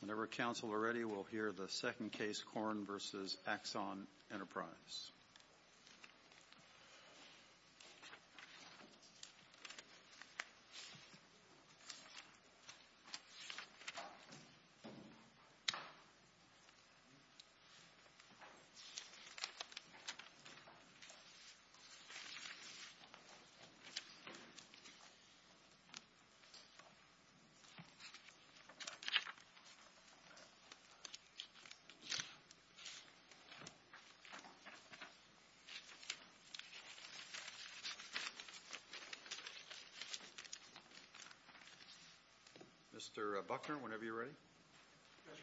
Whenever counsel are ready, we'll hear the second case, Curran v. Axon Enterprise. Curran v. Axon Enterprise. Mr. Buckner, whenever you're ready. Yes,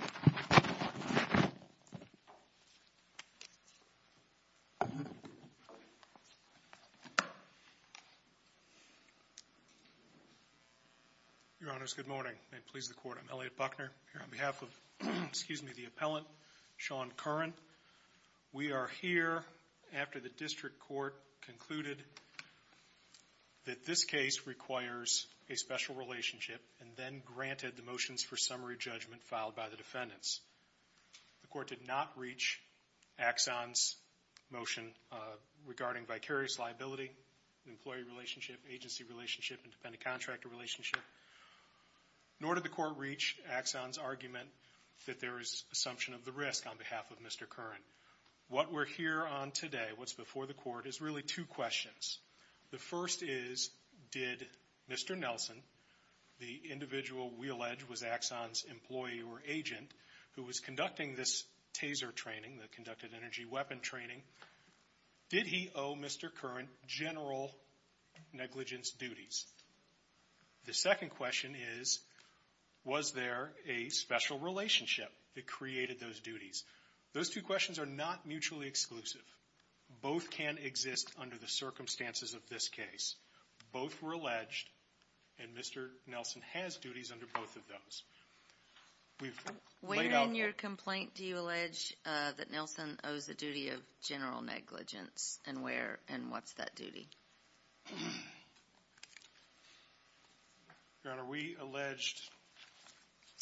Your Honor. Thank you. Your Honors, good morning. May it please the Court, I'm Elliot Buckner. I'm here on behalf of, excuse me, the appellant, Sean Curran. We are here after the district court concluded that this case requires a special relationship and then granted the motions for summary judgment filed by the defendants. The court did not reach Axon's motion regarding vicarious liability, employee relationship, agency relationship, and dependent contractor relationship. Nor did the court reach Axon's argument that there is assumption of the risk on behalf of Mr. Curran. What we're here on today, what's before the court, is really two questions. The first is, did Mr. Nelson, the individual we allege was Axon's employee or agent, who was conducting this TASER training, the Conducted Energy Weapon Training, did he owe Mr. Curran general negligence duties? The second question is, was there a special relationship that created those duties? Those two questions are not mutually exclusive. Both can exist under the circumstances of this case. Both were alleged, and Mr. Nelson has duties under both of those. Where in your complaint do you allege that Nelson owes a duty of general negligence, and where and what's that duty? Your Honor, we allege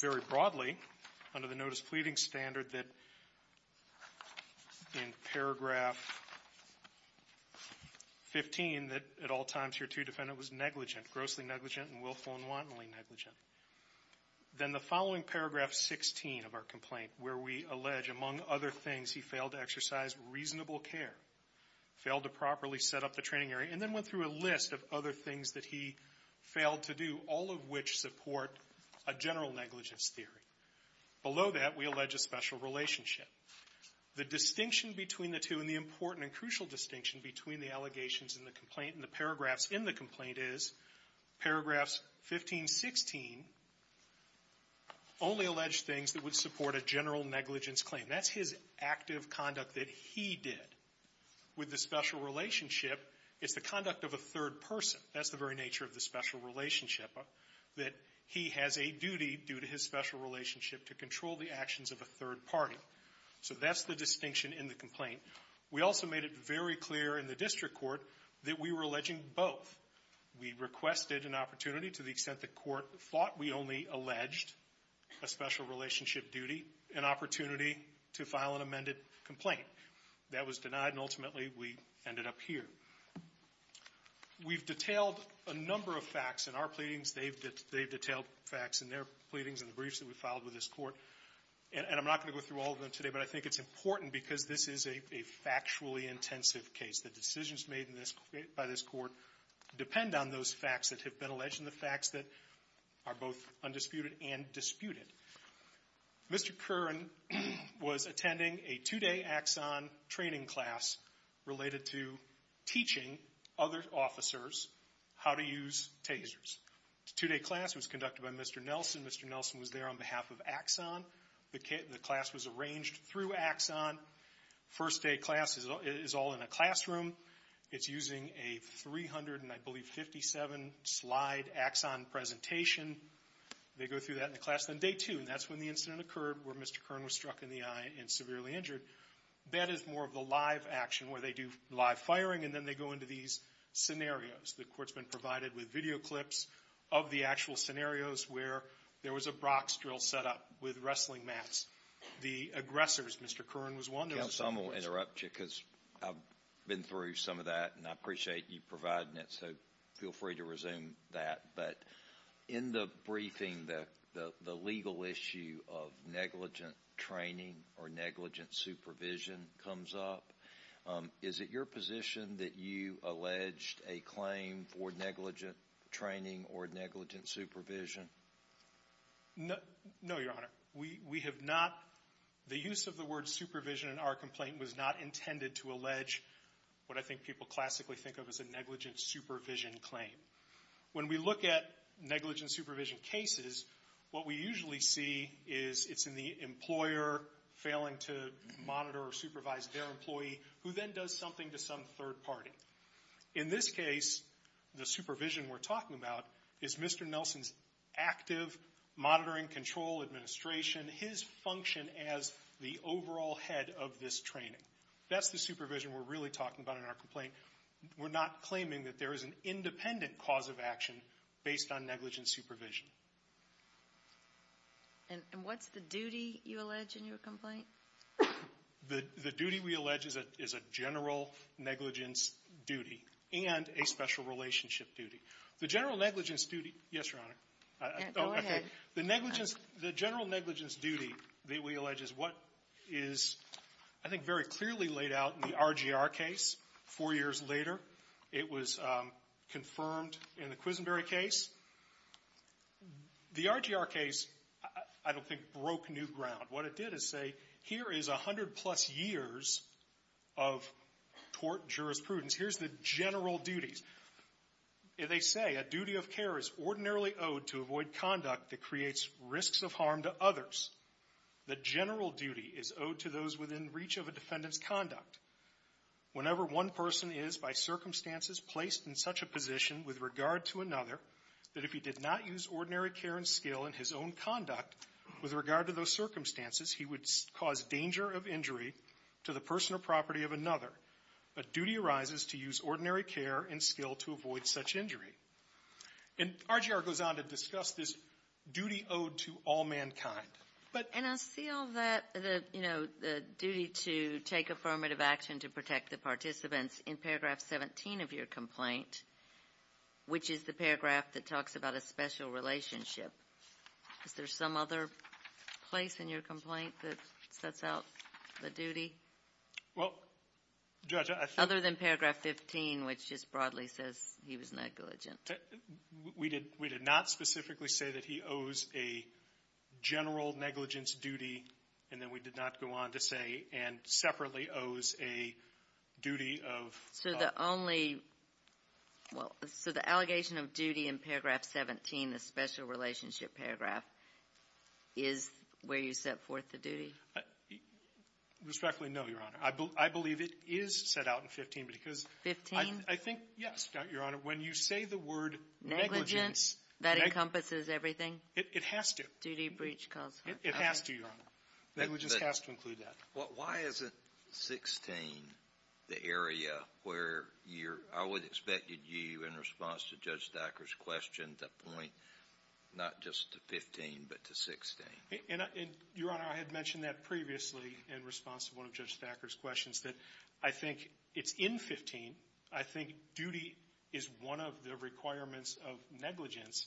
very broadly, under the notice pleading standard, that in paragraph 15, that at all times your two defendant was negligent, grossly negligent and willful and wantonly negligent. Then the following paragraph 16 of our complaint, where we allege, among other things, he failed to exercise reasonable care, failed to properly set up the training area, and then went through a list of other things that he failed to do, all of which support a general negligence theory. Below that, we allege a special relationship. The distinction between the two and the important and crucial distinction between the allegations in the complaint and the paragraphs in the complaint is, paragraphs 15, 16 only allege things that would support a general negligence claim. That's his active conduct that he did. With the special relationship, it's the conduct of a third person. That's the very nature of the special relationship, that he has a duty due to his special relationship to control the actions of a third party. So that's the distinction in the complaint. We also made it very clear in the district court that we were alleging both. We requested an opportunity to the extent the court thought we only alleged a special relationship duty, an opportunity to file an amended complaint. That was denied, and ultimately we ended up here. We've detailed a number of facts in our pleadings. They've detailed facts in their pleadings and the briefs that we filed with this court. And I'm not going to go through all of them today, but I think it's important because this is a factually intensive case. The decisions made by this court depend on those facts that have been alleged and the facts that are both undisputed and disputed. Mr. Curran was attending a two-day Axon training class related to teaching other officers how to use tasers. The two-day class was conducted by Mr. Nelson. Mr. Nelson was there on behalf of Axon. The class was arranged through Axon. First day class is all in a classroom. It's using a 357-slide Axon presentation. They go through that in the class on day two, and that's when the incident occurred where Mr. Curran was struck in the eye and severely injured. That is more of the live action where they do live firing, and then they go into these scenarios. The court's been provided with video clips of the actual scenarios where there was a brox drill set up with wrestling mats. The aggressors, Mr. Curran was one of those. Counsel, I'm going to interrupt you because I've been through some of that, and I appreciate you providing it, so feel free to resume that. But in the briefing, the legal issue of negligent training or negligent supervision comes up. Is it your position that you alleged a claim for negligent training or negligent supervision? No, Your Honor. We have not. The use of the word supervision in our complaint was not intended to allege what I think people classically think of as a negligent supervision claim. When we look at negligent supervision cases, what we usually see is it's in the employer failing to monitor or supervise their employee, who then does something to some third party. In this case, the supervision we're talking about is Mr. Nelson's active monitoring, control, administration, his function as the overall head of this training. That's the supervision we're really talking about in our complaint. We're not claiming that there is an independent cause of action based on negligent supervision. And what's the duty you allege in your complaint? The duty we allege is a general negligence duty and a special relationship duty. The general negligence duty, yes, Your Honor. Go ahead. The general negligence duty that we allege is what is, I think, very clearly laid out in the RGR case four years later. It was confirmed in the Quisenberry case. The RGR case, I don't think, broke new ground. What it did is say, here is 100-plus years of tort jurisprudence. Here's the general duties. They say, a duty of care is ordinarily owed to avoid conduct that creates risks of harm to others. The general duty is owed to those within reach of a defendant's conduct. Whenever one person is, by circumstances, placed in such a position with regard to another, that if he did not use ordinary care and skill in his own conduct with regard to those circumstances, he would cause danger of injury to the person or property of another. A duty arises to use ordinary care and skill to avoid such injury. And RGR goes on to discuss this duty owed to all mankind. And I see all that, the duty to take affirmative action to protect the participants in paragraph 17 of your complaint, which is the paragraph that talks about a special relationship. Is there some other place in your complaint that sets out the duty? Well, Judge, I think— We did not specifically say that he owes a general negligence duty, and then we did not go on to say, and separately owes a duty of— So the only—well, so the allegation of duty in paragraph 17, the special relationship paragraph, is where you set forth the duty? Respectfully, no, Your Honor. I believe it is set out in 15 because— 15? I think, yes, Your Honor. When you say the word negligence— Negligence? That encompasses everything? It has to. Duty breach cause harm. It has to, Your Honor. Negligence has to include that. Why isn't 16 the area where you're—I would expect that you, in response to Judge Thacker's question, to point not just to 15 but to 16? Your Honor, I had mentioned that previously in response to one of Judge Thacker's questions, that I think it's in 15. I think duty is one of the requirements of negligence,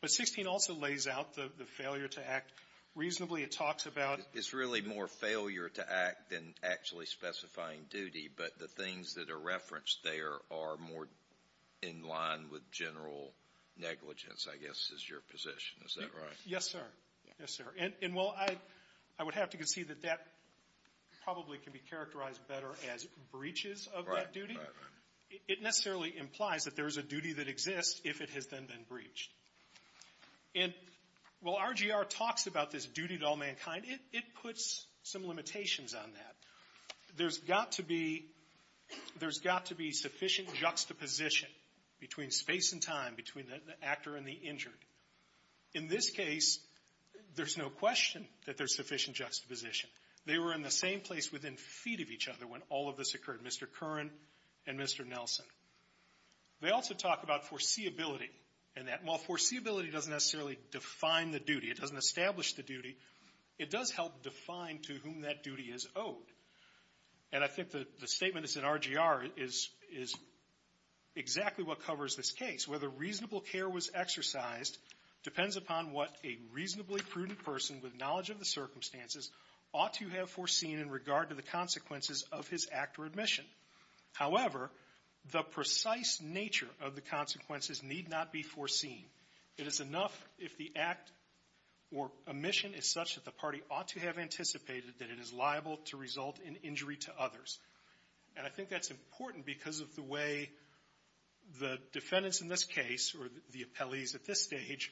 but 16 also lays out the failure to act reasonably. It talks about— It's really more failure to act than actually specifying duty, but the things that are referenced there are more in line with general negligence, I guess, is your position. Is that right? Yes, sir. Yes, sir. And, well, I would have to concede that that probably can be characterized better as breaches of that duty. Right, right. It necessarily implies that there is a duty that exists if it has then been breached. And while RGR talks about this duty to all mankind, it puts some limitations on that. There's got to be sufficient juxtaposition between space and time, between the actor and the injured. In this case, there's no question that there's sufficient juxtaposition. They were in the same place within feet of each other when all of this occurred. Mr. Curran and Mr. Nelson. They also talk about foreseeability. And while foreseeability doesn't necessarily define the duty, it doesn't establish the duty, it does help define to whom that duty is owed. And I think the statement that's in RGR is exactly what covers this case. Whether reasonable care was exercised depends upon what a reasonably prudent person with knowledge of the circumstances ought to have foreseen in regard to the consequences of his act or admission. However, the precise nature of the consequences need not be foreseen. It is enough if the act or omission is such that the party ought to have anticipated that it is liable to result in injury to others. And I think that's important because of the way the defendants in this case, or the appellees at this stage,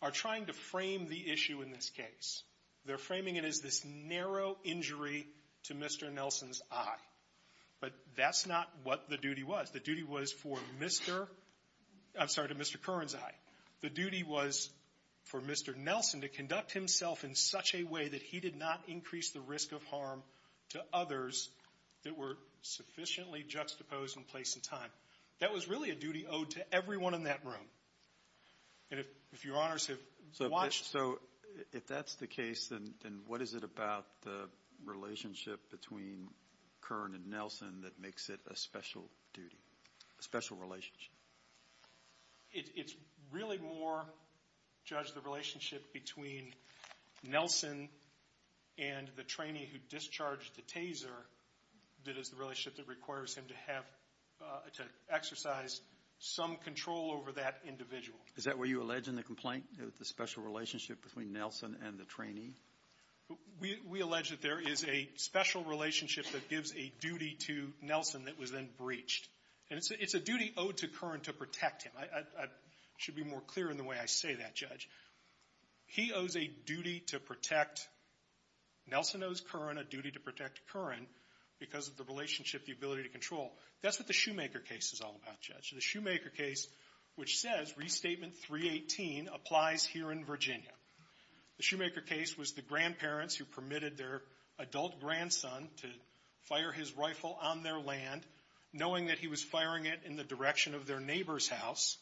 are trying to frame the issue in this case. They're framing it as this narrow injury to Mr. Nelson's eye. But that's not what the duty was. The duty was for Mr. — I'm sorry, to Mr. Curran's eye. The duty was for Mr. Nelson to conduct himself in such a way that he did not increase the risk of harm to others that were sufficiently juxtaposed in place and time. That was really a duty owed to everyone in that room. And if Your Honors have watched — If that's the case, then what is it about the relationship between Curran and Nelson that makes it a special duty, a special relationship? It's really more, Judge, the relationship between Nelson and the trainee who discharged the taser that is the relationship that requires him to exercise some control over that individual. Is that what you allege in the complaint, the special relationship between Nelson and the trainee? We allege that there is a special relationship that gives a duty to Nelson that was then breached. And it's a duty owed to Curran to protect him. I should be more clear in the way I say that, Judge. He owes a duty to protect — Nelson owes Curran a duty to protect Curran because of the relationship, the ability to control. That's what the Shoemaker case is all about, Judge. The Shoemaker case, which says Restatement 318, applies here in Virginia. The Shoemaker case was the grandparents who permitted their adult grandson to fire his rifle on their land, knowing that he was firing it in the direction of their neighbor's house.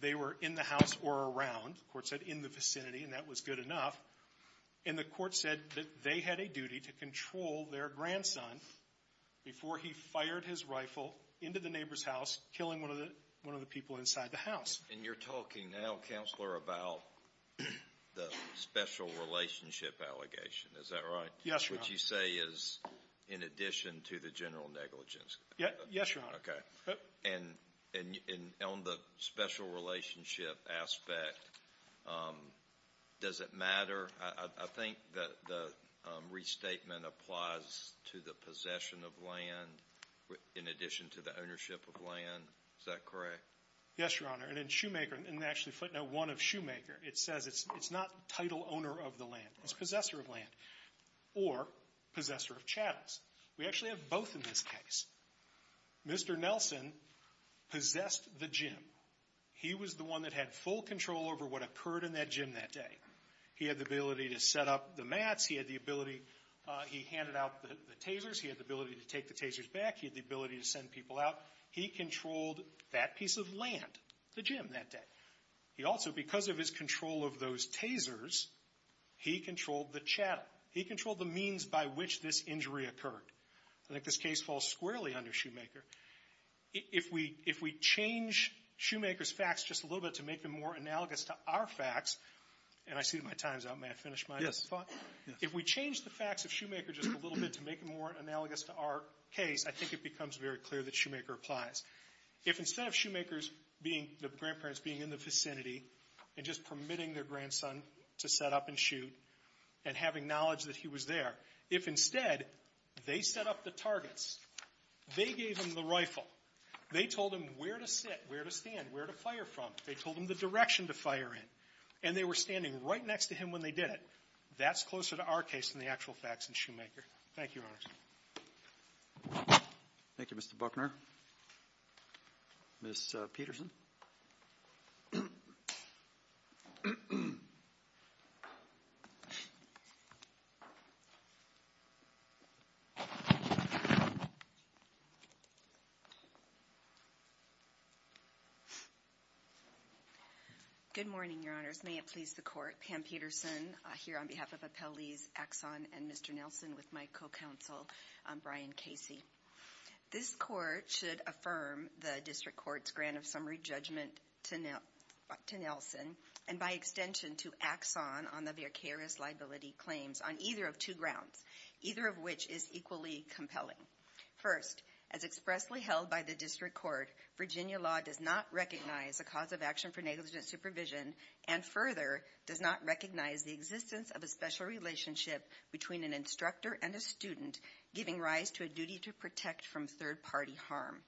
They were in the house or around. The court said in the vicinity, and that was good enough. And the court said that they had a duty to control their grandson before he fired his rifle into the neighbor's house, killing one of the people inside the house. And you're talking now, Counselor, about the special relationship allegation. Is that right? Yes, Your Honor. Which you say is in addition to the general negligence. Yes, Your Honor. Okay. And on the special relationship aspect, does it matter? I think that the restatement applies to the possession of land in addition to the ownership of land. Is that correct? Yes, Your Honor. And in Shoemaker, and actually footnote 1 of Shoemaker, it says it's not title owner of the land. It's possessor of land or possessor of chattels. We actually have both in this case. Mr. Nelson possessed the gym. He was the one that had full control over what occurred in that gym that day. He had the ability to set up the mats. He had the ability. He handed out the tasers. He had the ability to take the tasers back. He had the ability to send people out. He controlled that piece of land, the gym, that day. He also, because of his control of those tasers, he controlled the chattel. He controlled the means by which this injury occurred. I think this case falls squarely under Shoemaker. If we change Shoemaker's facts just a little bit to make them more analogous to our facts, and I see my time's up. May I finish my thought? Yes. If we change the facts of Shoemaker just a little bit to make them more analogous to our case, I think it becomes very clear that Shoemaker applies. If instead of Shoemaker's being the grandparents being in the vicinity and just permitting their grandson to set up and shoot and having knowledge that he was there, if instead they set up the targets, they gave him the rifle, they told him where to sit, where to stand, where to fire from, they told him the direction to fire in, and they were standing right next to him when they did it, that's closer to our case than the actual facts in Shoemaker. Thank you, Your Honors. Thank you, Mr. Buckner. Ms. Peterson. Good morning, Your Honors. May it please the Court. Pam Peterson here on behalf of Appellees Axon and Mr. Nelson with my co-counsel Brian Casey. This Court should affirm the District Court's grant of summary judgment to Nelson and by extension to Axon on the vicarious liability claims on either of two grounds, either of which is equally compelling. First, as expressly held by the District Court, Virginia law does not recognize the cause of action for negligent supervision and further does not recognize the existence of a special relationship between an instructor and a student giving rise to a duty to protect from third-party harm.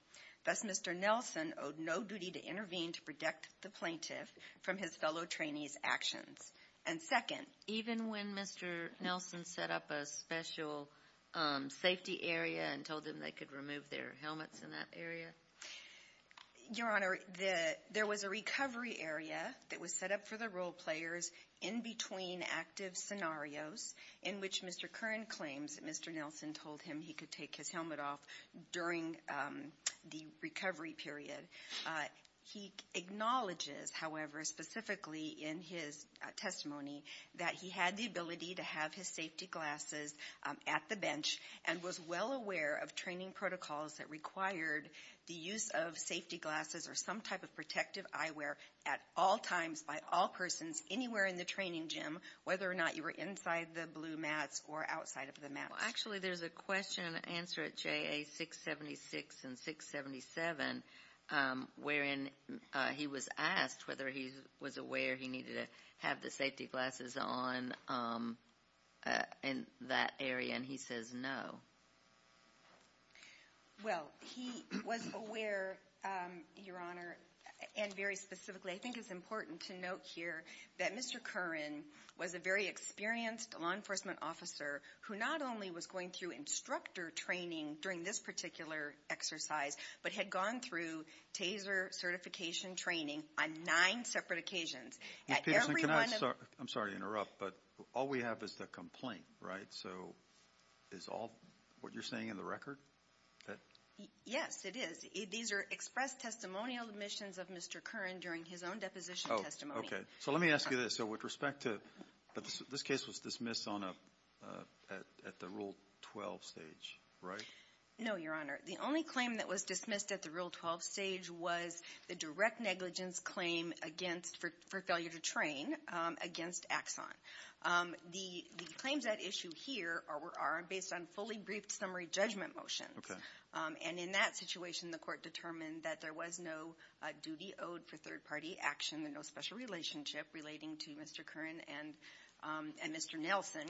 Thus, Mr. Nelson owed no duty to intervene to protect the plaintiff from his fellow trainee's actions. And second. Even when Mr. Nelson set up a special safety area and told them they could remove their helmets in that area? Your Honor, there was a recovery area that was set up for the role players in between active scenarios in which Mr. Curran claims that Mr. Nelson told him that he could take his helmet off during the recovery period. He acknowledges, however, specifically in his testimony, that he had the ability to have his safety glasses at the bench and was well aware of training protocols that required the use of safety glasses or some type of protective eyewear at all times by all persons anywhere in the training gym, whether or not you were inside the blue mats or outside of the mats. Well, actually, there's a question and answer at JA 676 and 677 wherein he was asked whether he was aware he needed to have the safety glasses on in that area, and he says no. Well, he was aware, Your Honor, and very specifically, I think it's important to note here that Mr. Curran was a very experienced law enforcement officer who not only was going through instructor training during this particular exercise but had gone through TASER certification training on nine separate occasions. And, Peterson, can I? I'm sorry to interrupt, but all we have is the complaint, right? So is all what you're saying in the record? Yes, it is. These are expressed testimonial admissions of Mr. Curran during his own deposition testimony. Oh, okay. So let me ask you this. So with respect to this case was dismissed at the Rule 12 stage, right? No, Your Honor. The only claim that was dismissed at the Rule 12 stage was the direct negligence claim against for failure to train against Axon. The claims at issue here are based on fully briefed summary judgment motions. Okay. And in that situation, the Court determined that there was no duty owed for third-party action and no special relationship relating to Mr. Curran and Mr. Nelson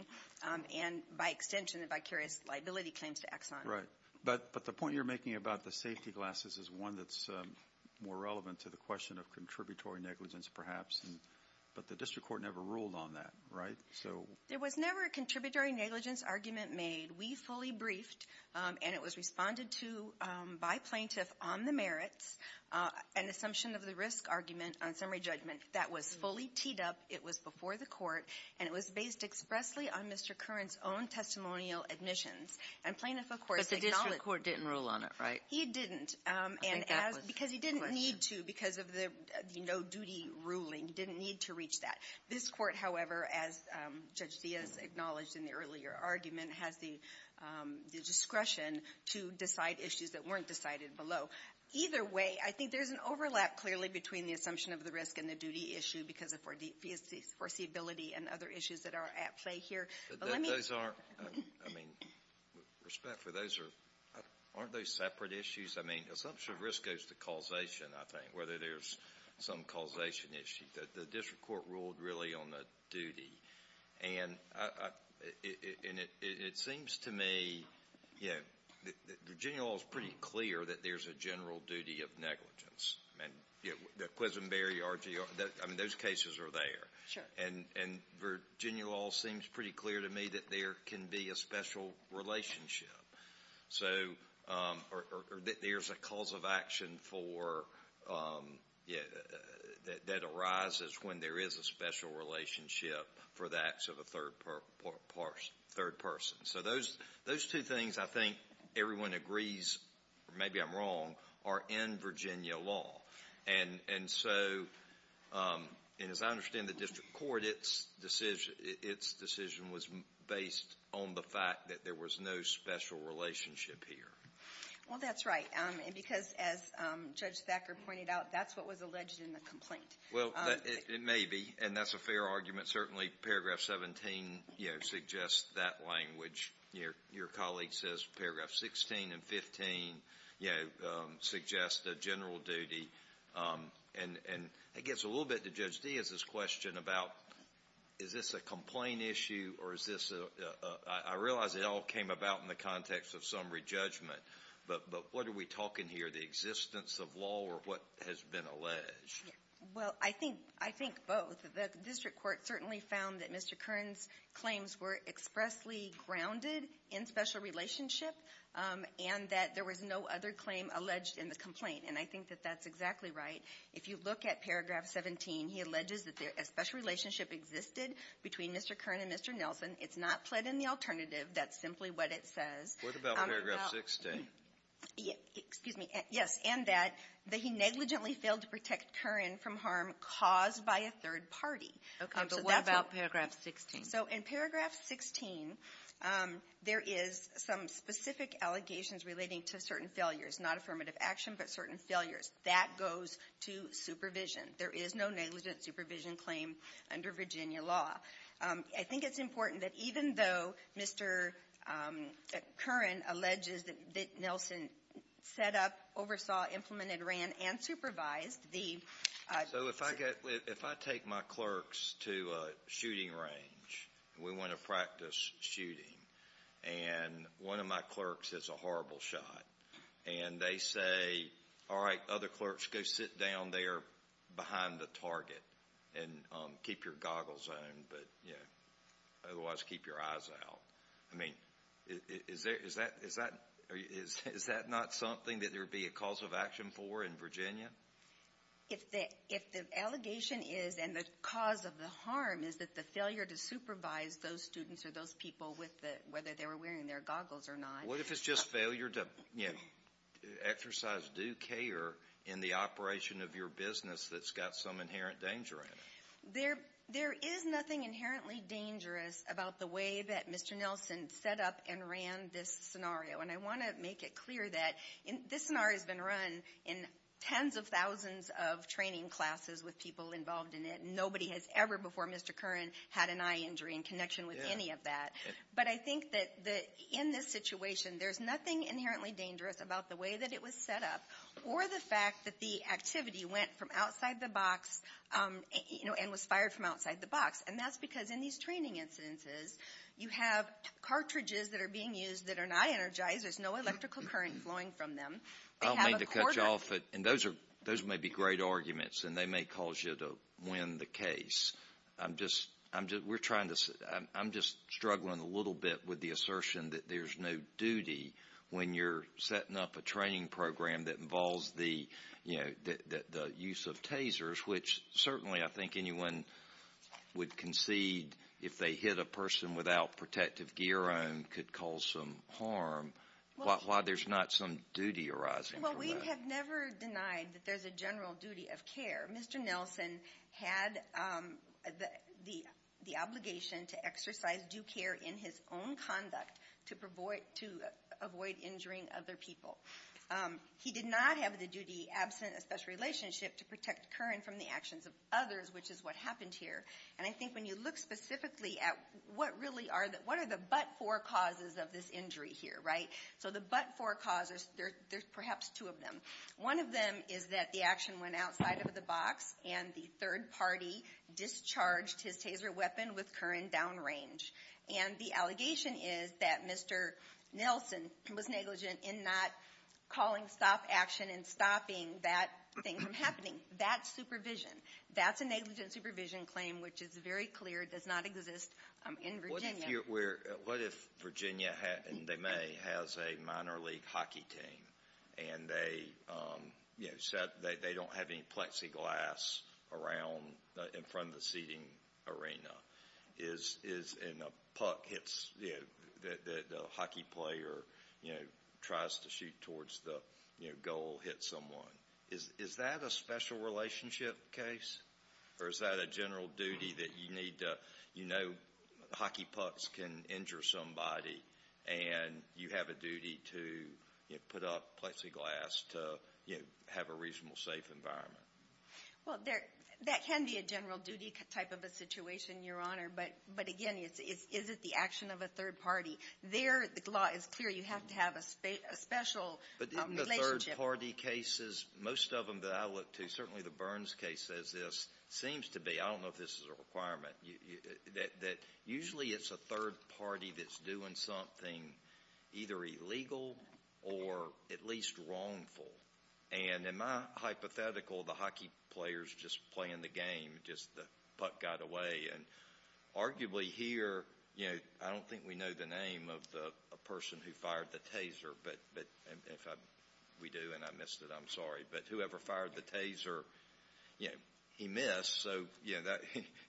and, by extension, the vicarious liability claims to Axon. Right. But the point you're making about the safety glasses is one that's more relevant to the question of contributory negligence perhaps. But the district court never ruled on that, right? There was never a contributory negligence argument made. We fully briefed, and it was responded to by plaintiff on the merits, an assumption of the risk argument on summary judgment that was fully teed up. It was before the Court, and it was based expressly on Mr. Curran's own testimonial admissions. And plaintiff, of course, acknowledged it. But the district court didn't rule on it, right? He didn't. I think that was the question. Because he didn't need to because of the no-duty ruling. He didn't need to reach that. This Court, however, as Judge Diaz acknowledged in the earlier argument, has the discretion to decide issues that weren't decided below. So either way, I think there's an overlap clearly between the assumption of the risk and the duty issue because of foreseeability and other issues that are at play here. But let me... But those aren't, I mean, with respect for those, aren't those separate issues? I mean, assumption of risk goes to causation, I think, whether there's some causation issue. The district court ruled really on the duty. And it seems to me, you know, Virginia law is pretty clear that there's a general duty of negligence. I mean, the Quisenberry RGR, I mean, those cases are there. Sure. And Virginia law seems pretty clear to me that there can be a special relationship. Or that there's a cause of action that arises when there is a special relationship for the acts of a third person. So those two things I think everyone agrees, or maybe I'm wrong, are in Virginia law. And so, and as I understand the district court, its decision was based on the fact that there was no special relationship here. Well, that's right. Because as Judge Thacker pointed out, that's what was alleged in the complaint. Well, it may be. And that's a fair argument. Certainly, paragraph 17, you know, suggests that language. Your colleague says paragraph 16 and 15, you know, suggest a general duty. And it gets a little bit to Judge Diaz's question about is this a complaint issue or is this a — I realize it all came about in the context of summary judgment. But what are we talking here, the existence of law or what has been alleged? Well, I think both. The district court certainly found that Mr. Kern's claims were expressly grounded in special relationship and that there was no other claim alleged in the complaint. And I think that that's exactly right. If you look at paragraph 17, he alleges that a special relationship existed between Mr. Kern and Mr. Nelson. It's not pled in the alternative. That's simply what it says. What about paragraph 16? Excuse me. Yes. And that he negligently failed to protect Kern from harm caused by a third party. Okay. But what about paragraph 16? So in paragraph 16, there is some specific allegations relating to certain failures, not affirmative action, but certain failures. That goes to supervision. There is no negligent supervision claim under Virginia law. I think it's important that even though Mr. Kern alleges that Nelson set up, oversaw, implemented, ran, and supervised the ---- So if I take my clerks to a shooting range and we want to practice shooting, and one of my clerks hits a horrible shot, and they say, all right, other clerks, go sit down there behind the target and keep your goggles on. But, you know, otherwise keep your eyes out. I mean, is that not something that there would be a cause of action for in Virginia? If the allegation is and the cause of the harm is that the failure to supervise those students or those people, whether they were wearing their goggles or not. What if it's just failure to exercise due care in the operation of your business that's got some inherent danger in it? There is nothing inherently dangerous about the way that Mr. Nelson set up and ran this scenario. And I want to make it clear that this scenario has been run in tens of thousands of training classes with people involved in it. Nobody has ever before, Mr. Kern, had an eye injury in connection with any of that. But I think that in this situation, there's nothing inherently dangerous about the way that it was set up or the fact that the activity went from outside the box, you know, and was fired from outside the box. And that's because in these training incidences, you have cartridges that are being used that are not energized. There's no electrical current flowing from them. I don't mean to cut you off, but those may be great arguments, and they may cause you to win the case. I'm just struggling a little bit with the assertion that there's no duty when you're setting up a training program that involves the use of tasers, which certainly I think anyone would concede if they hit a person without protective gear on could cause some harm. Why there's not some duty arising from that? Well, we have never denied that there's a general duty of care. Mr. Nelson had the obligation to exercise due care in his own conduct to avoid injuring other people. He did not have the duty absent a special relationship to protect Kern from the actions of others, which is what happened here. And I think when you look specifically at what really are the but-for causes of this injury here, right? So the but-for causes, there's perhaps two of them. One of them is that the action went outside of the box, and the third party discharged his taser weapon with Kern downrange. And the allegation is that Mr. Nelson was negligent in not calling stop action and stopping that thing from happening. That's supervision. That's a negligent supervision claim, which is very clear, does not exist in Virginia. What if Virginia, and they may, has a minor league hockey team, and they don't have any plexiglass around in front of the seating arena? And a puck hits, the hockey player tries to shoot towards the goal, hits someone. Is that a special relationship case? Or is that a general duty that you need to, you know, hockey pucks can injure somebody, and you have a duty to put up plexiglass to have a reasonable, safe environment? Well, that can be a general duty type of a situation, Your Honor. But, again, is it the action of a third party? There, the law is clear, you have to have a special relationship. Most of them that I look to, certainly the Burns case says this, seems to be, I don't know if this is a requirement, that usually it's a third party that's doing something either illegal or at least wrongful. And in my hypothetical, the hockey player's just playing the game, just the puck got away. And arguably here, you know, I don't think we know the name of the person who fired the taser, but if we do and I missed it, I'm sorry. But whoever fired the taser, you know, he missed, so he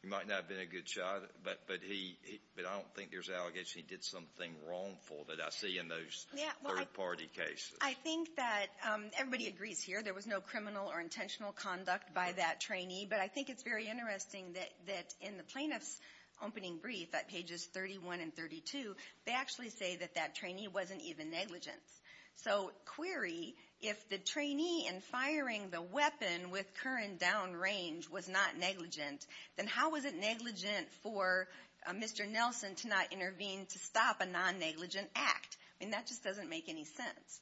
might not have been a good shot. But I don't think there's an allegation he did something wrongful that I see in those third party cases. I think that everybody agrees here, there was no criminal or intentional conduct by that trainee. But I think it's very interesting that in the plaintiff's opening brief at pages 31 and 32, they actually say that that trainee wasn't even negligent. So query, if the trainee in firing the weapon with Curran downrange was not negligent, then how was it negligent for Mr. Nelson to not intervene to stop a non-negligent act? I mean, that just doesn't make any sense.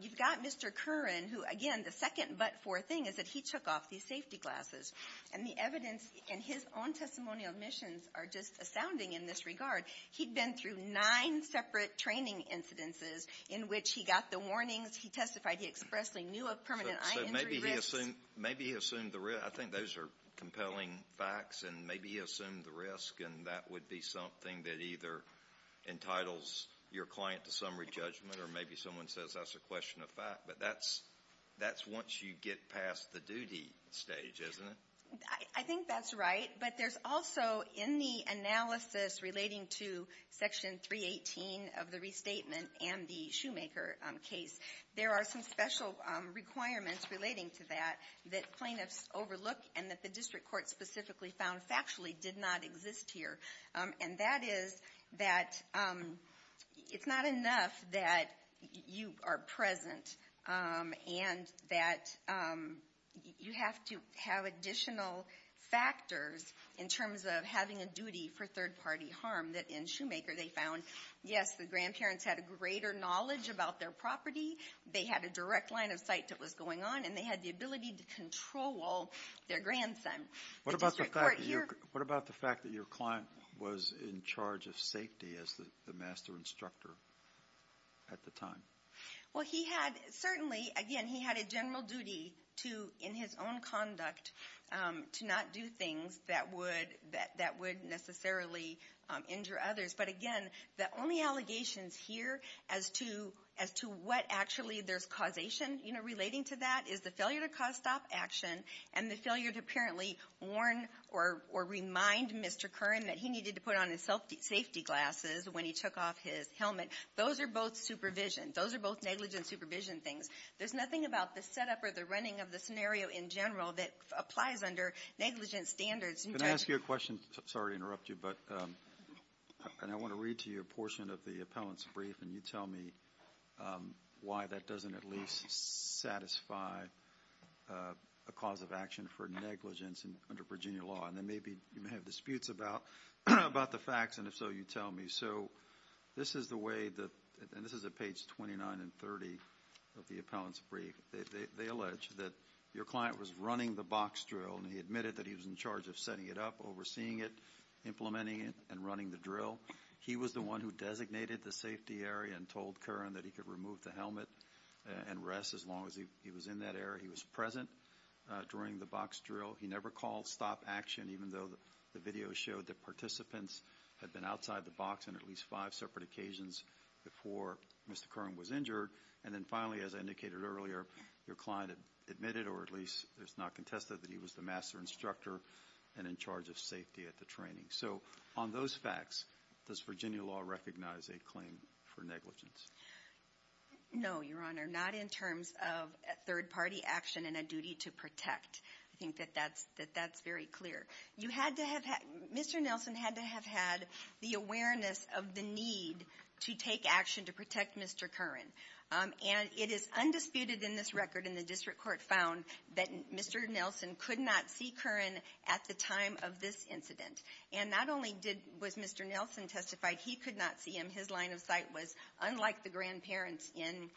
You've got Mr. Curran who, again, the second but for thing is that he took off these safety glasses. And the evidence in his own testimonial admissions are just astounding in this regard. He'd been through nine separate training incidences in which he got the warnings, he testified he expressly knew of permanent eye injury risks. So maybe he assumed the risk. I think those are compelling facts, and maybe he assumed the risk, and that would be something that either entitles your client to summary judgment or maybe someone says that's a question of fact. But that's once you get past the duty stage, isn't it? I think that's right. But there's also in the analysis relating to Section 318 of the restatement and the Shoemaker case, there are some special requirements relating to that that plaintiffs overlook and that the district court specifically found factually did not exist here. And that is that it's not enough that you are present and that you have to have additional factors in terms of having a duty for third-party harm that in Shoemaker they found, yes, the grandparents had a greater knowledge about their property, they had a direct line of sight that was going on, and they had the ability to control their grandson. What about the fact that your client was in charge of safety as the master instructor at the time? Well, certainly, again, he had a general duty in his own conduct to not do things that would necessarily injure others. But again, the only allegations here as to what actually there's causation relating to that is the failure to cause stop action and the failure to apparently warn or remind Mr. Curran that he needed to put on his safety glasses when he took off his helmet. Those are both supervision. Those are both negligent supervision things. There's nothing about the setup or the running of the scenario in general that applies under negligent standards. Can I ask you a question? Sorry to interrupt you, but I want to read to you a portion of the appellant's brief, and you tell me why that doesn't at least satisfy a cause of action for negligence under Virginia law. And then maybe you may have disputes about the facts, and if so, you tell me. So this is the way that—and this is at page 29 and 30 of the appellant's brief. They allege that your client was running the box drill, and he admitted that he was in charge of setting it up, overseeing it, implementing it, and running the drill. He was the one who designated the safety area and told Curran that he could remove the helmet and rest as long as he was in that area. He was present during the box drill. He never called stop action, even though the video showed that participants had been outside the box on at least five separate occasions before Mr. Curran was injured. And then finally, as I indicated earlier, your client admitted, or at least it's not contested, that he was the master instructor and in charge of safety at the training. So on those facts, does Virginia law recognize a claim for negligence? No, Your Honor, not in terms of third-party action and a duty to protect. I think that that's very clear. You had to have—Mr. Nelson had to have had the awareness of the need to take action to protect Mr. Curran. And it is undisputed in this record, and the district court found, that Mr. Nelson could not see Curran at the time of this incident. And not only was Mr. Nelson testified, he could not see him. His line of sight was unlike the grandparents in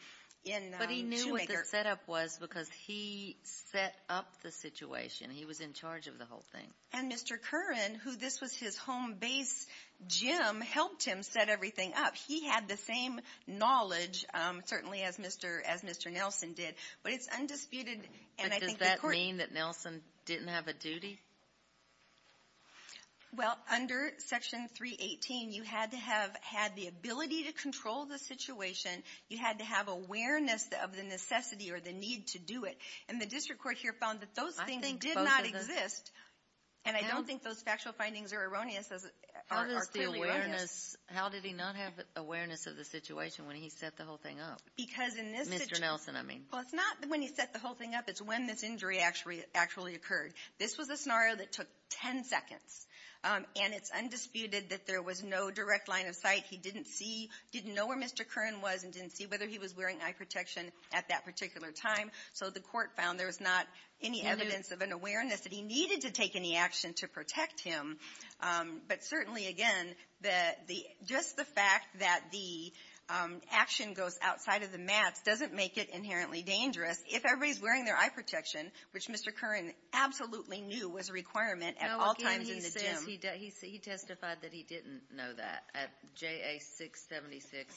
Shoemaker. But he knew what the setup was because he set up the situation. He was in charge of the whole thing. And Mr. Curran, who this was his home base gym, helped him set everything up. He had the same knowledge, certainly, as Mr. Nelson did. But it's undisputed, and I think the court— Well, under Section 318, you had to have had the ability to control the situation. You had to have awareness of the necessity or the need to do it. And the district court here found that those things did not exist. And I don't think those factual findings are erroneous. How does the awareness—how did he not have awareness of the situation when he set the whole thing up? Mr. Nelson, I mean. Well, it's not when he set the whole thing up. It's when this injury actually occurred. This was a scenario that took 10 seconds. And it's undisputed that there was no direct line of sight. He didn't see—didn't know where Mr. Curran was and didn't see whether he was wearing eye protection at that particular time. So the court found there was not any evidence of an awareness that he needed to take any action to protect him. But certainly, again, just the fact that the action goes outside of the maps doesn't make it inherently dangerous. If everybody's wearing their eye protection, which Mr. Curran absolutely knew was a requirement at all times in the gym— No, again, he says—he testified that he didn't know that. At JA 676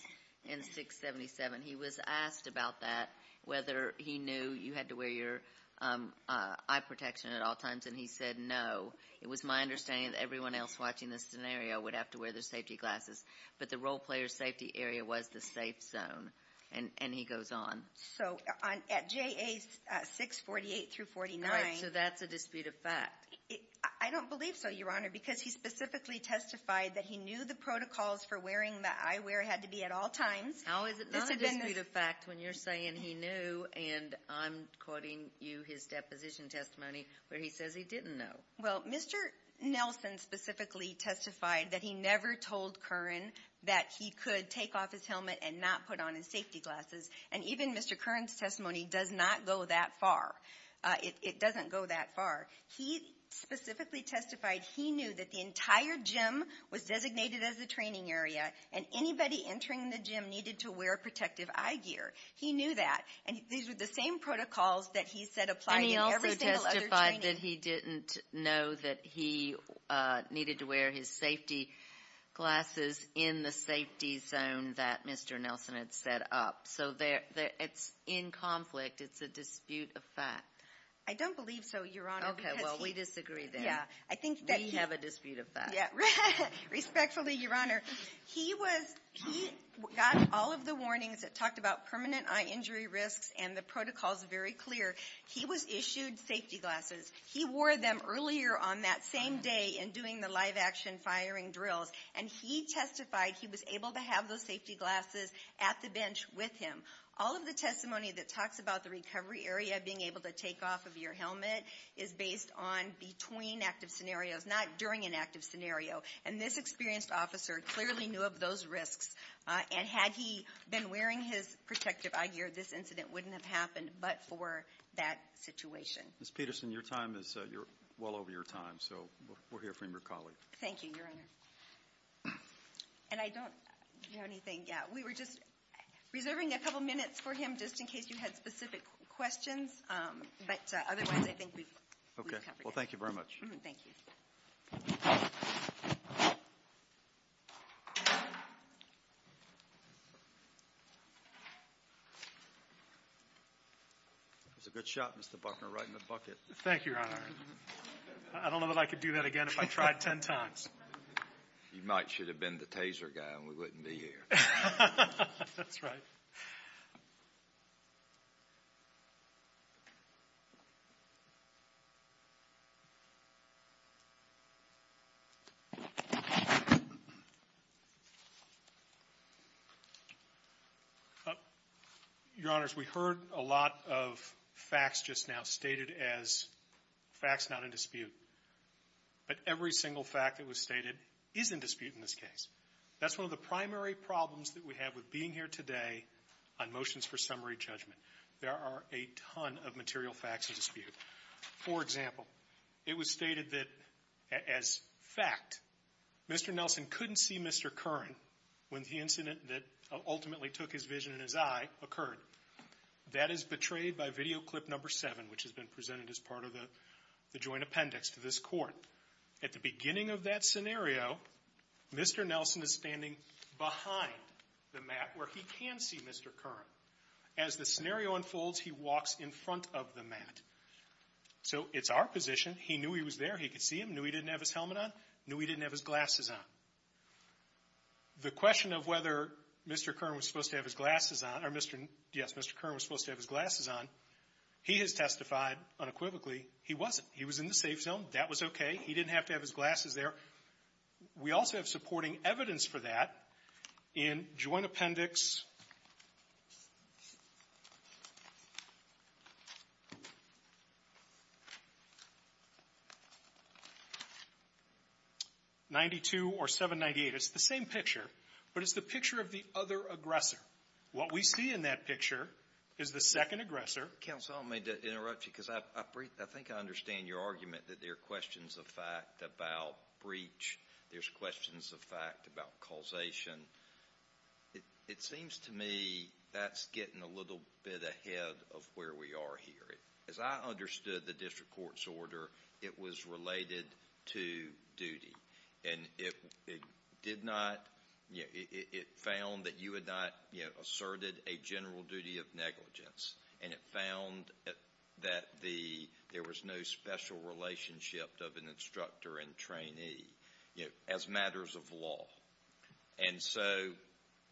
and 677, he was asked about that, whether he knew you had to wear your eye protection at all times, and he said no. It was my understanding that everyone else watching this scenario would have to wear their safety glasses. But the role player's safety area was the safe zone. And he goes on. So at JA 648 through 49— Right, so that's a dispute of fact. I don't believe so, Your Honor, because he specifically testified that he knew the protocols for wearing the eyewear had to be at all times. How is it not a dispute of fact when you're saying he knew and I'm quoting you his deposition testimony where he says he didn't know? Well, Mr. Nelson specifically testified that he never told Curran that he could take off his helmet and not put on his safety glasses. And even Mr. Curran's testimony does not go that far. It doesn't go that far. He specifically testified he knew that the entire gym was designated as a training area, and anybody entering the gym needed to wear protective eye gear. He knew that. And these were the same protocols that he said applied in every single other training. And he also testified that he didn't know that he needed to wear his safety glasses in the safety zone that Mr. Nelson had set up. So it's in conflict. It's a dispute of fact. I don't believe so, Your Honor, because he— Okay, well, we disagree then. Yeah, I think that he— We have a dispute of fact. Yeah, respectfully, Your Honor. He was—he got all of the warnings that talked about permanent eye injury risks and the protocols very clear. He was issued safety glasses. He wore them earlier on that same day in doing the live-action firing drills. And he testified he was able to have those safety glasses at the bench with him. All of the testimony that talks about the recovery area, being able to take off of your helmet, is based on between active scenarios, not during an active scenario. And this experienced officer clearly knew of those risks. And had he been wearing his protective eye gear, this incident wouldn't have happened but for that situation. Ms. Peterson, your time is—you're well over your time, so we'll hear from your colleague. Thank you, Your Honor. And I don't—do you have anything? Yeah, we were just reserving a couple minutes for him just in case you had specific questions. But otherwise, I think we've covered everything. Okay, well, thank you very much. Thank you. That was a good shot, Mr. Buckner, right in the bucket. Thank you, Your Honor. I don't know that I could do that again if I tried ten times. You might should have been the taser guy and we wouldn't be here. That's right. Your Honors, we heard a lot of facts just now stated as facts not in dispute. But every single fact that was stated is in dispute in this case. That's one of the primary problems that we have with being here today on motions for summary judgment. There are a ton of material facts in dispute. For example, it was stated that, as fact, Mr. Nelson couldn't see Mr. Curran when the incident that ultimately took his vision and his eye occurred. That is betrayed by video clip number seven, which has been presented as part of the joint appendix to this court. At the beginning of that scenario, Mr. Nelson is standing behind the mat where he can see Mr. Curran. As the scenario unfolds, he walks in front of the mat. So it's our position. He knew he was there. He could see him. Knew he didn't have his helmet on. Knew he didn't have his glasses on. The question of whether Mr. Curran was supposed to have his glasses on or Mr. Yes, Mr. Curran was supposed to have his glasses on, he has testified unequivocally he wasn't. He was in the safe zone. That was okay. He didn't have to have his glasses there. We also have supporting evidence for that in joint appendix 92 or 798. It's the same picture, but it's the picture of the other aggressor. What we see in that picture is the second aggressor. Counsel, may I interrupt you because I think I understand your argument that there are questions of fact about breach. There's questions of fact about causation. It seems to me that's getting a little bit ahead of where we are here. As I understood the district court's order, it was related to duty. It found that you had not asserted a general duty of negligence. It found that there was no special relationship of an instructor and trainee as matters of law.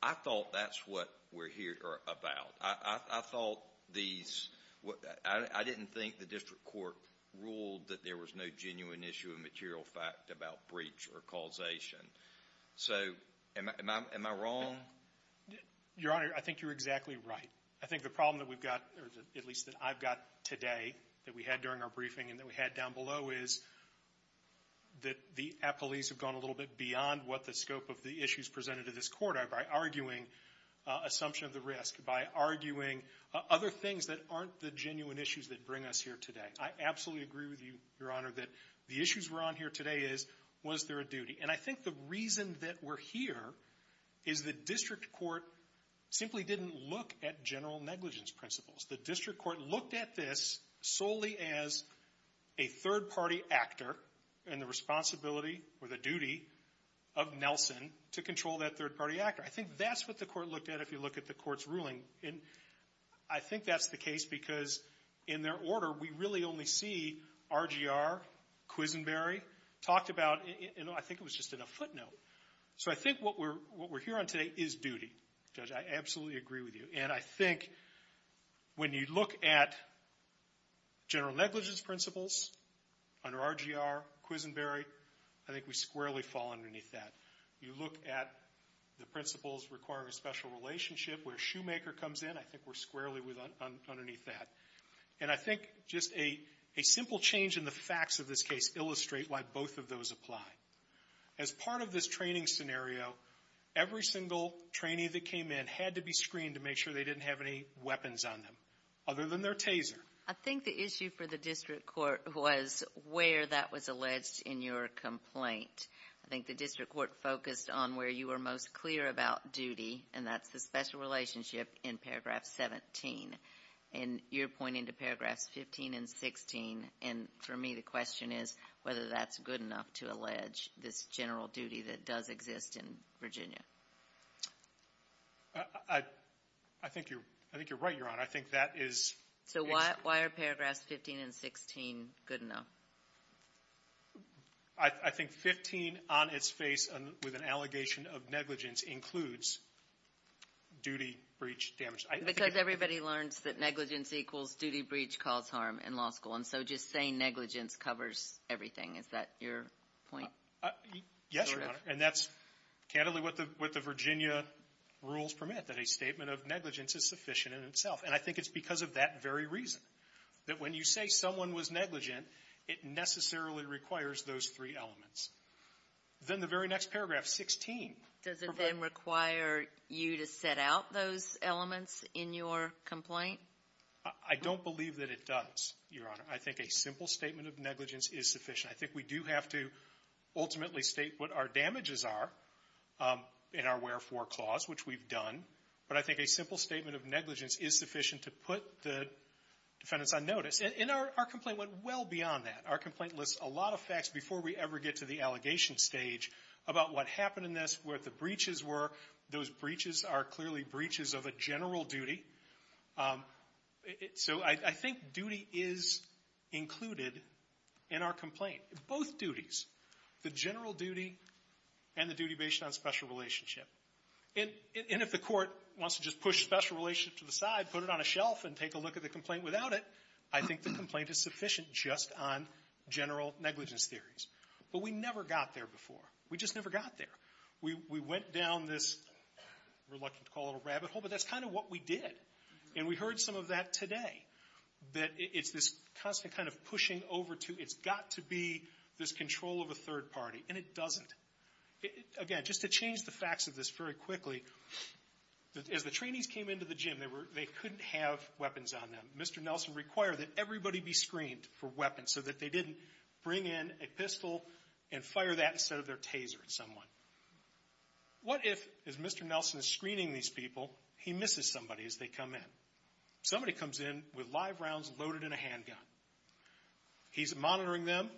I thought that's what we're here about. I didn't think the district court ruled that there was no genuine issue of material fact about breach or causation. Am I wrong? Your Honor, I think you're exactly right. I think the problem that we've got, or at least that I've got today, that we had during our briefing and that we had down below, is that the appellees have gone a little bit beyond what the scope of the issues presented to this court are by arguing assumption of the risk, by arguing other things that aren't the genuine issues that bring us here today. I absolutely agree with you, Your Honor, that the issues we're on here today is, was there a duty? I think the reason that we're here is the district court simply didn't look at general negligence principles. The district court looked at this solely as a third-party actor and the responsibility or the duty of Nelson to control that third-party actor. I think that's what the court looked at if you look at the court's ruling. And I think that's the case because in their order, we really only see RGR, Quisenberry talked about, and I think it was just in a footnote. So I think what we're here on today is duty. Judge, I absolutely agree with you. And I think when you look at general negligence principles under RGR, Quisenberry, I think we squarely fall underneath that. You look at the principles requiring a special relationship where Shoemaker comes in, I think we're squarely underneath that. And I think just a simple change in the facts of this case illustrate why both of those apply. As part of this training scenario, every single trainee that came in had to be screened to make sure they didn't have any weapons on them, other than their taser. I think the issue for the district court was where that was alleged in your complaint. I think the district court focused on where you were most clear about duty, and that's the special relationship in Paragraph 17. And you're pointing to Paragraphs 15 and 16, and for me the question is whether that's good enough to allege this general duty that does exist in Virginia. I think you're right, Your Honor. I think that is. So why are Paragraphs 15 and 16 good enough? I think 15 on its face with an allegation of negligence includes duty, breach, damage. Because everybody learns that negligence equals duty, breach, cause harm in law school. And so just saying negligence covers everything, is that your point? Yes, Your Honor. And that's candidly what the Virginia rules permit, that a statement of negligence is sufficient in itself. And I think it's because of that very reason, that when you say someone was negligent, it necessarily requires those three elements. Then the very next paragraph, 16. Does it then require you to set out those elements in your complaint? I don't believe that it does, Your Honor. I think a simple statement of negligence is sufficient. I think we do have to ultimately state what our damages are in our wherefore clause, which we've done. But I think a simple statement of negligence is sufficient to put the defendants on notice. And our complaint went well beyond that. Our complaint lists a lot of facts before we ever get to the allegation stage about what happened in this, what the breaches were. Those breaches are clearly breaches of a general duty. So I think duty is included in our complaint. Both duties, the general duty and the duty based on special relationship. And if the Court wants to just push special relationship to the side, put it on a shelf and take a look at the complaint without it, I think the complaint is sufficient just on general negligence theories. But we never got there before. We just never got there. We went down this, we're reluctant to call it a rabbit hole, but that's kind of what we did. And we heard some of that today, that it's this constant kind of pushing over to, it's got to be this control of a third party. And it doesn't. Again, just to change the facts of this very quickly, as the trainees came into the gym, they couldn't have weapons on them. Mr. Nelson required that everybody be screened for weapons so that they didn't bring in a pistol and fire that instead of their taser at someone. What if, as Mr. Nelson is screening these people, he misses somebody as they come in? Somebody comes in with live rounds loaded in a handgun. He's monitoring them,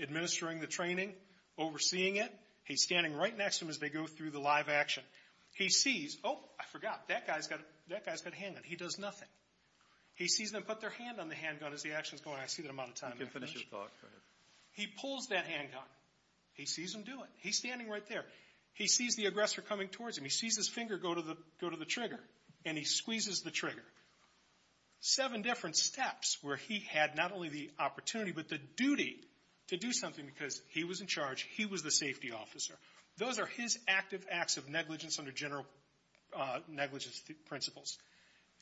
administering the training, overseeing it. He's standing right next to them as they go through the live action. He sees, oh, I forgot, that guy's got a handgun. He does nothing. He sees them put their hand on the handgun as the action's going. I see that I'm out of time. You can finish your talk. Go ahead. He pulls that handgun. He sees them do it. He's standing right there. He sees his finger go to the trigger and he squeezes the trigger. Seven different steps where he had not only the opportunity but the duty to do something because he was in charge. He was the safety officer. Those are his active acts of negligence under general negligence principles.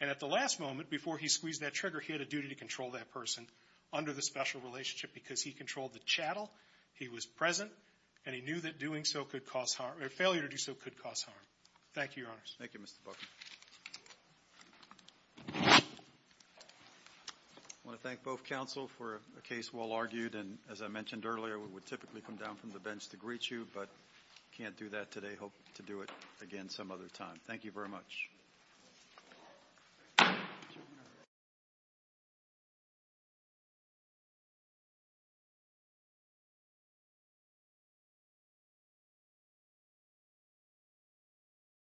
And at the last moment, before he squeezed that trigger, he had a duty to control that person under the special relationship because he controlled the chattel. He was present and he knew that doing so could cause harm or failure to do so could cause harm. Thank you, Your Honors. Thank you, Mr. Booker. I want to thank both counsel for a case well argued. And as I mentioned earlier, we would typically come down from the bench to greet you but can't do that today. Hope to do it again some other time. Thank you very much.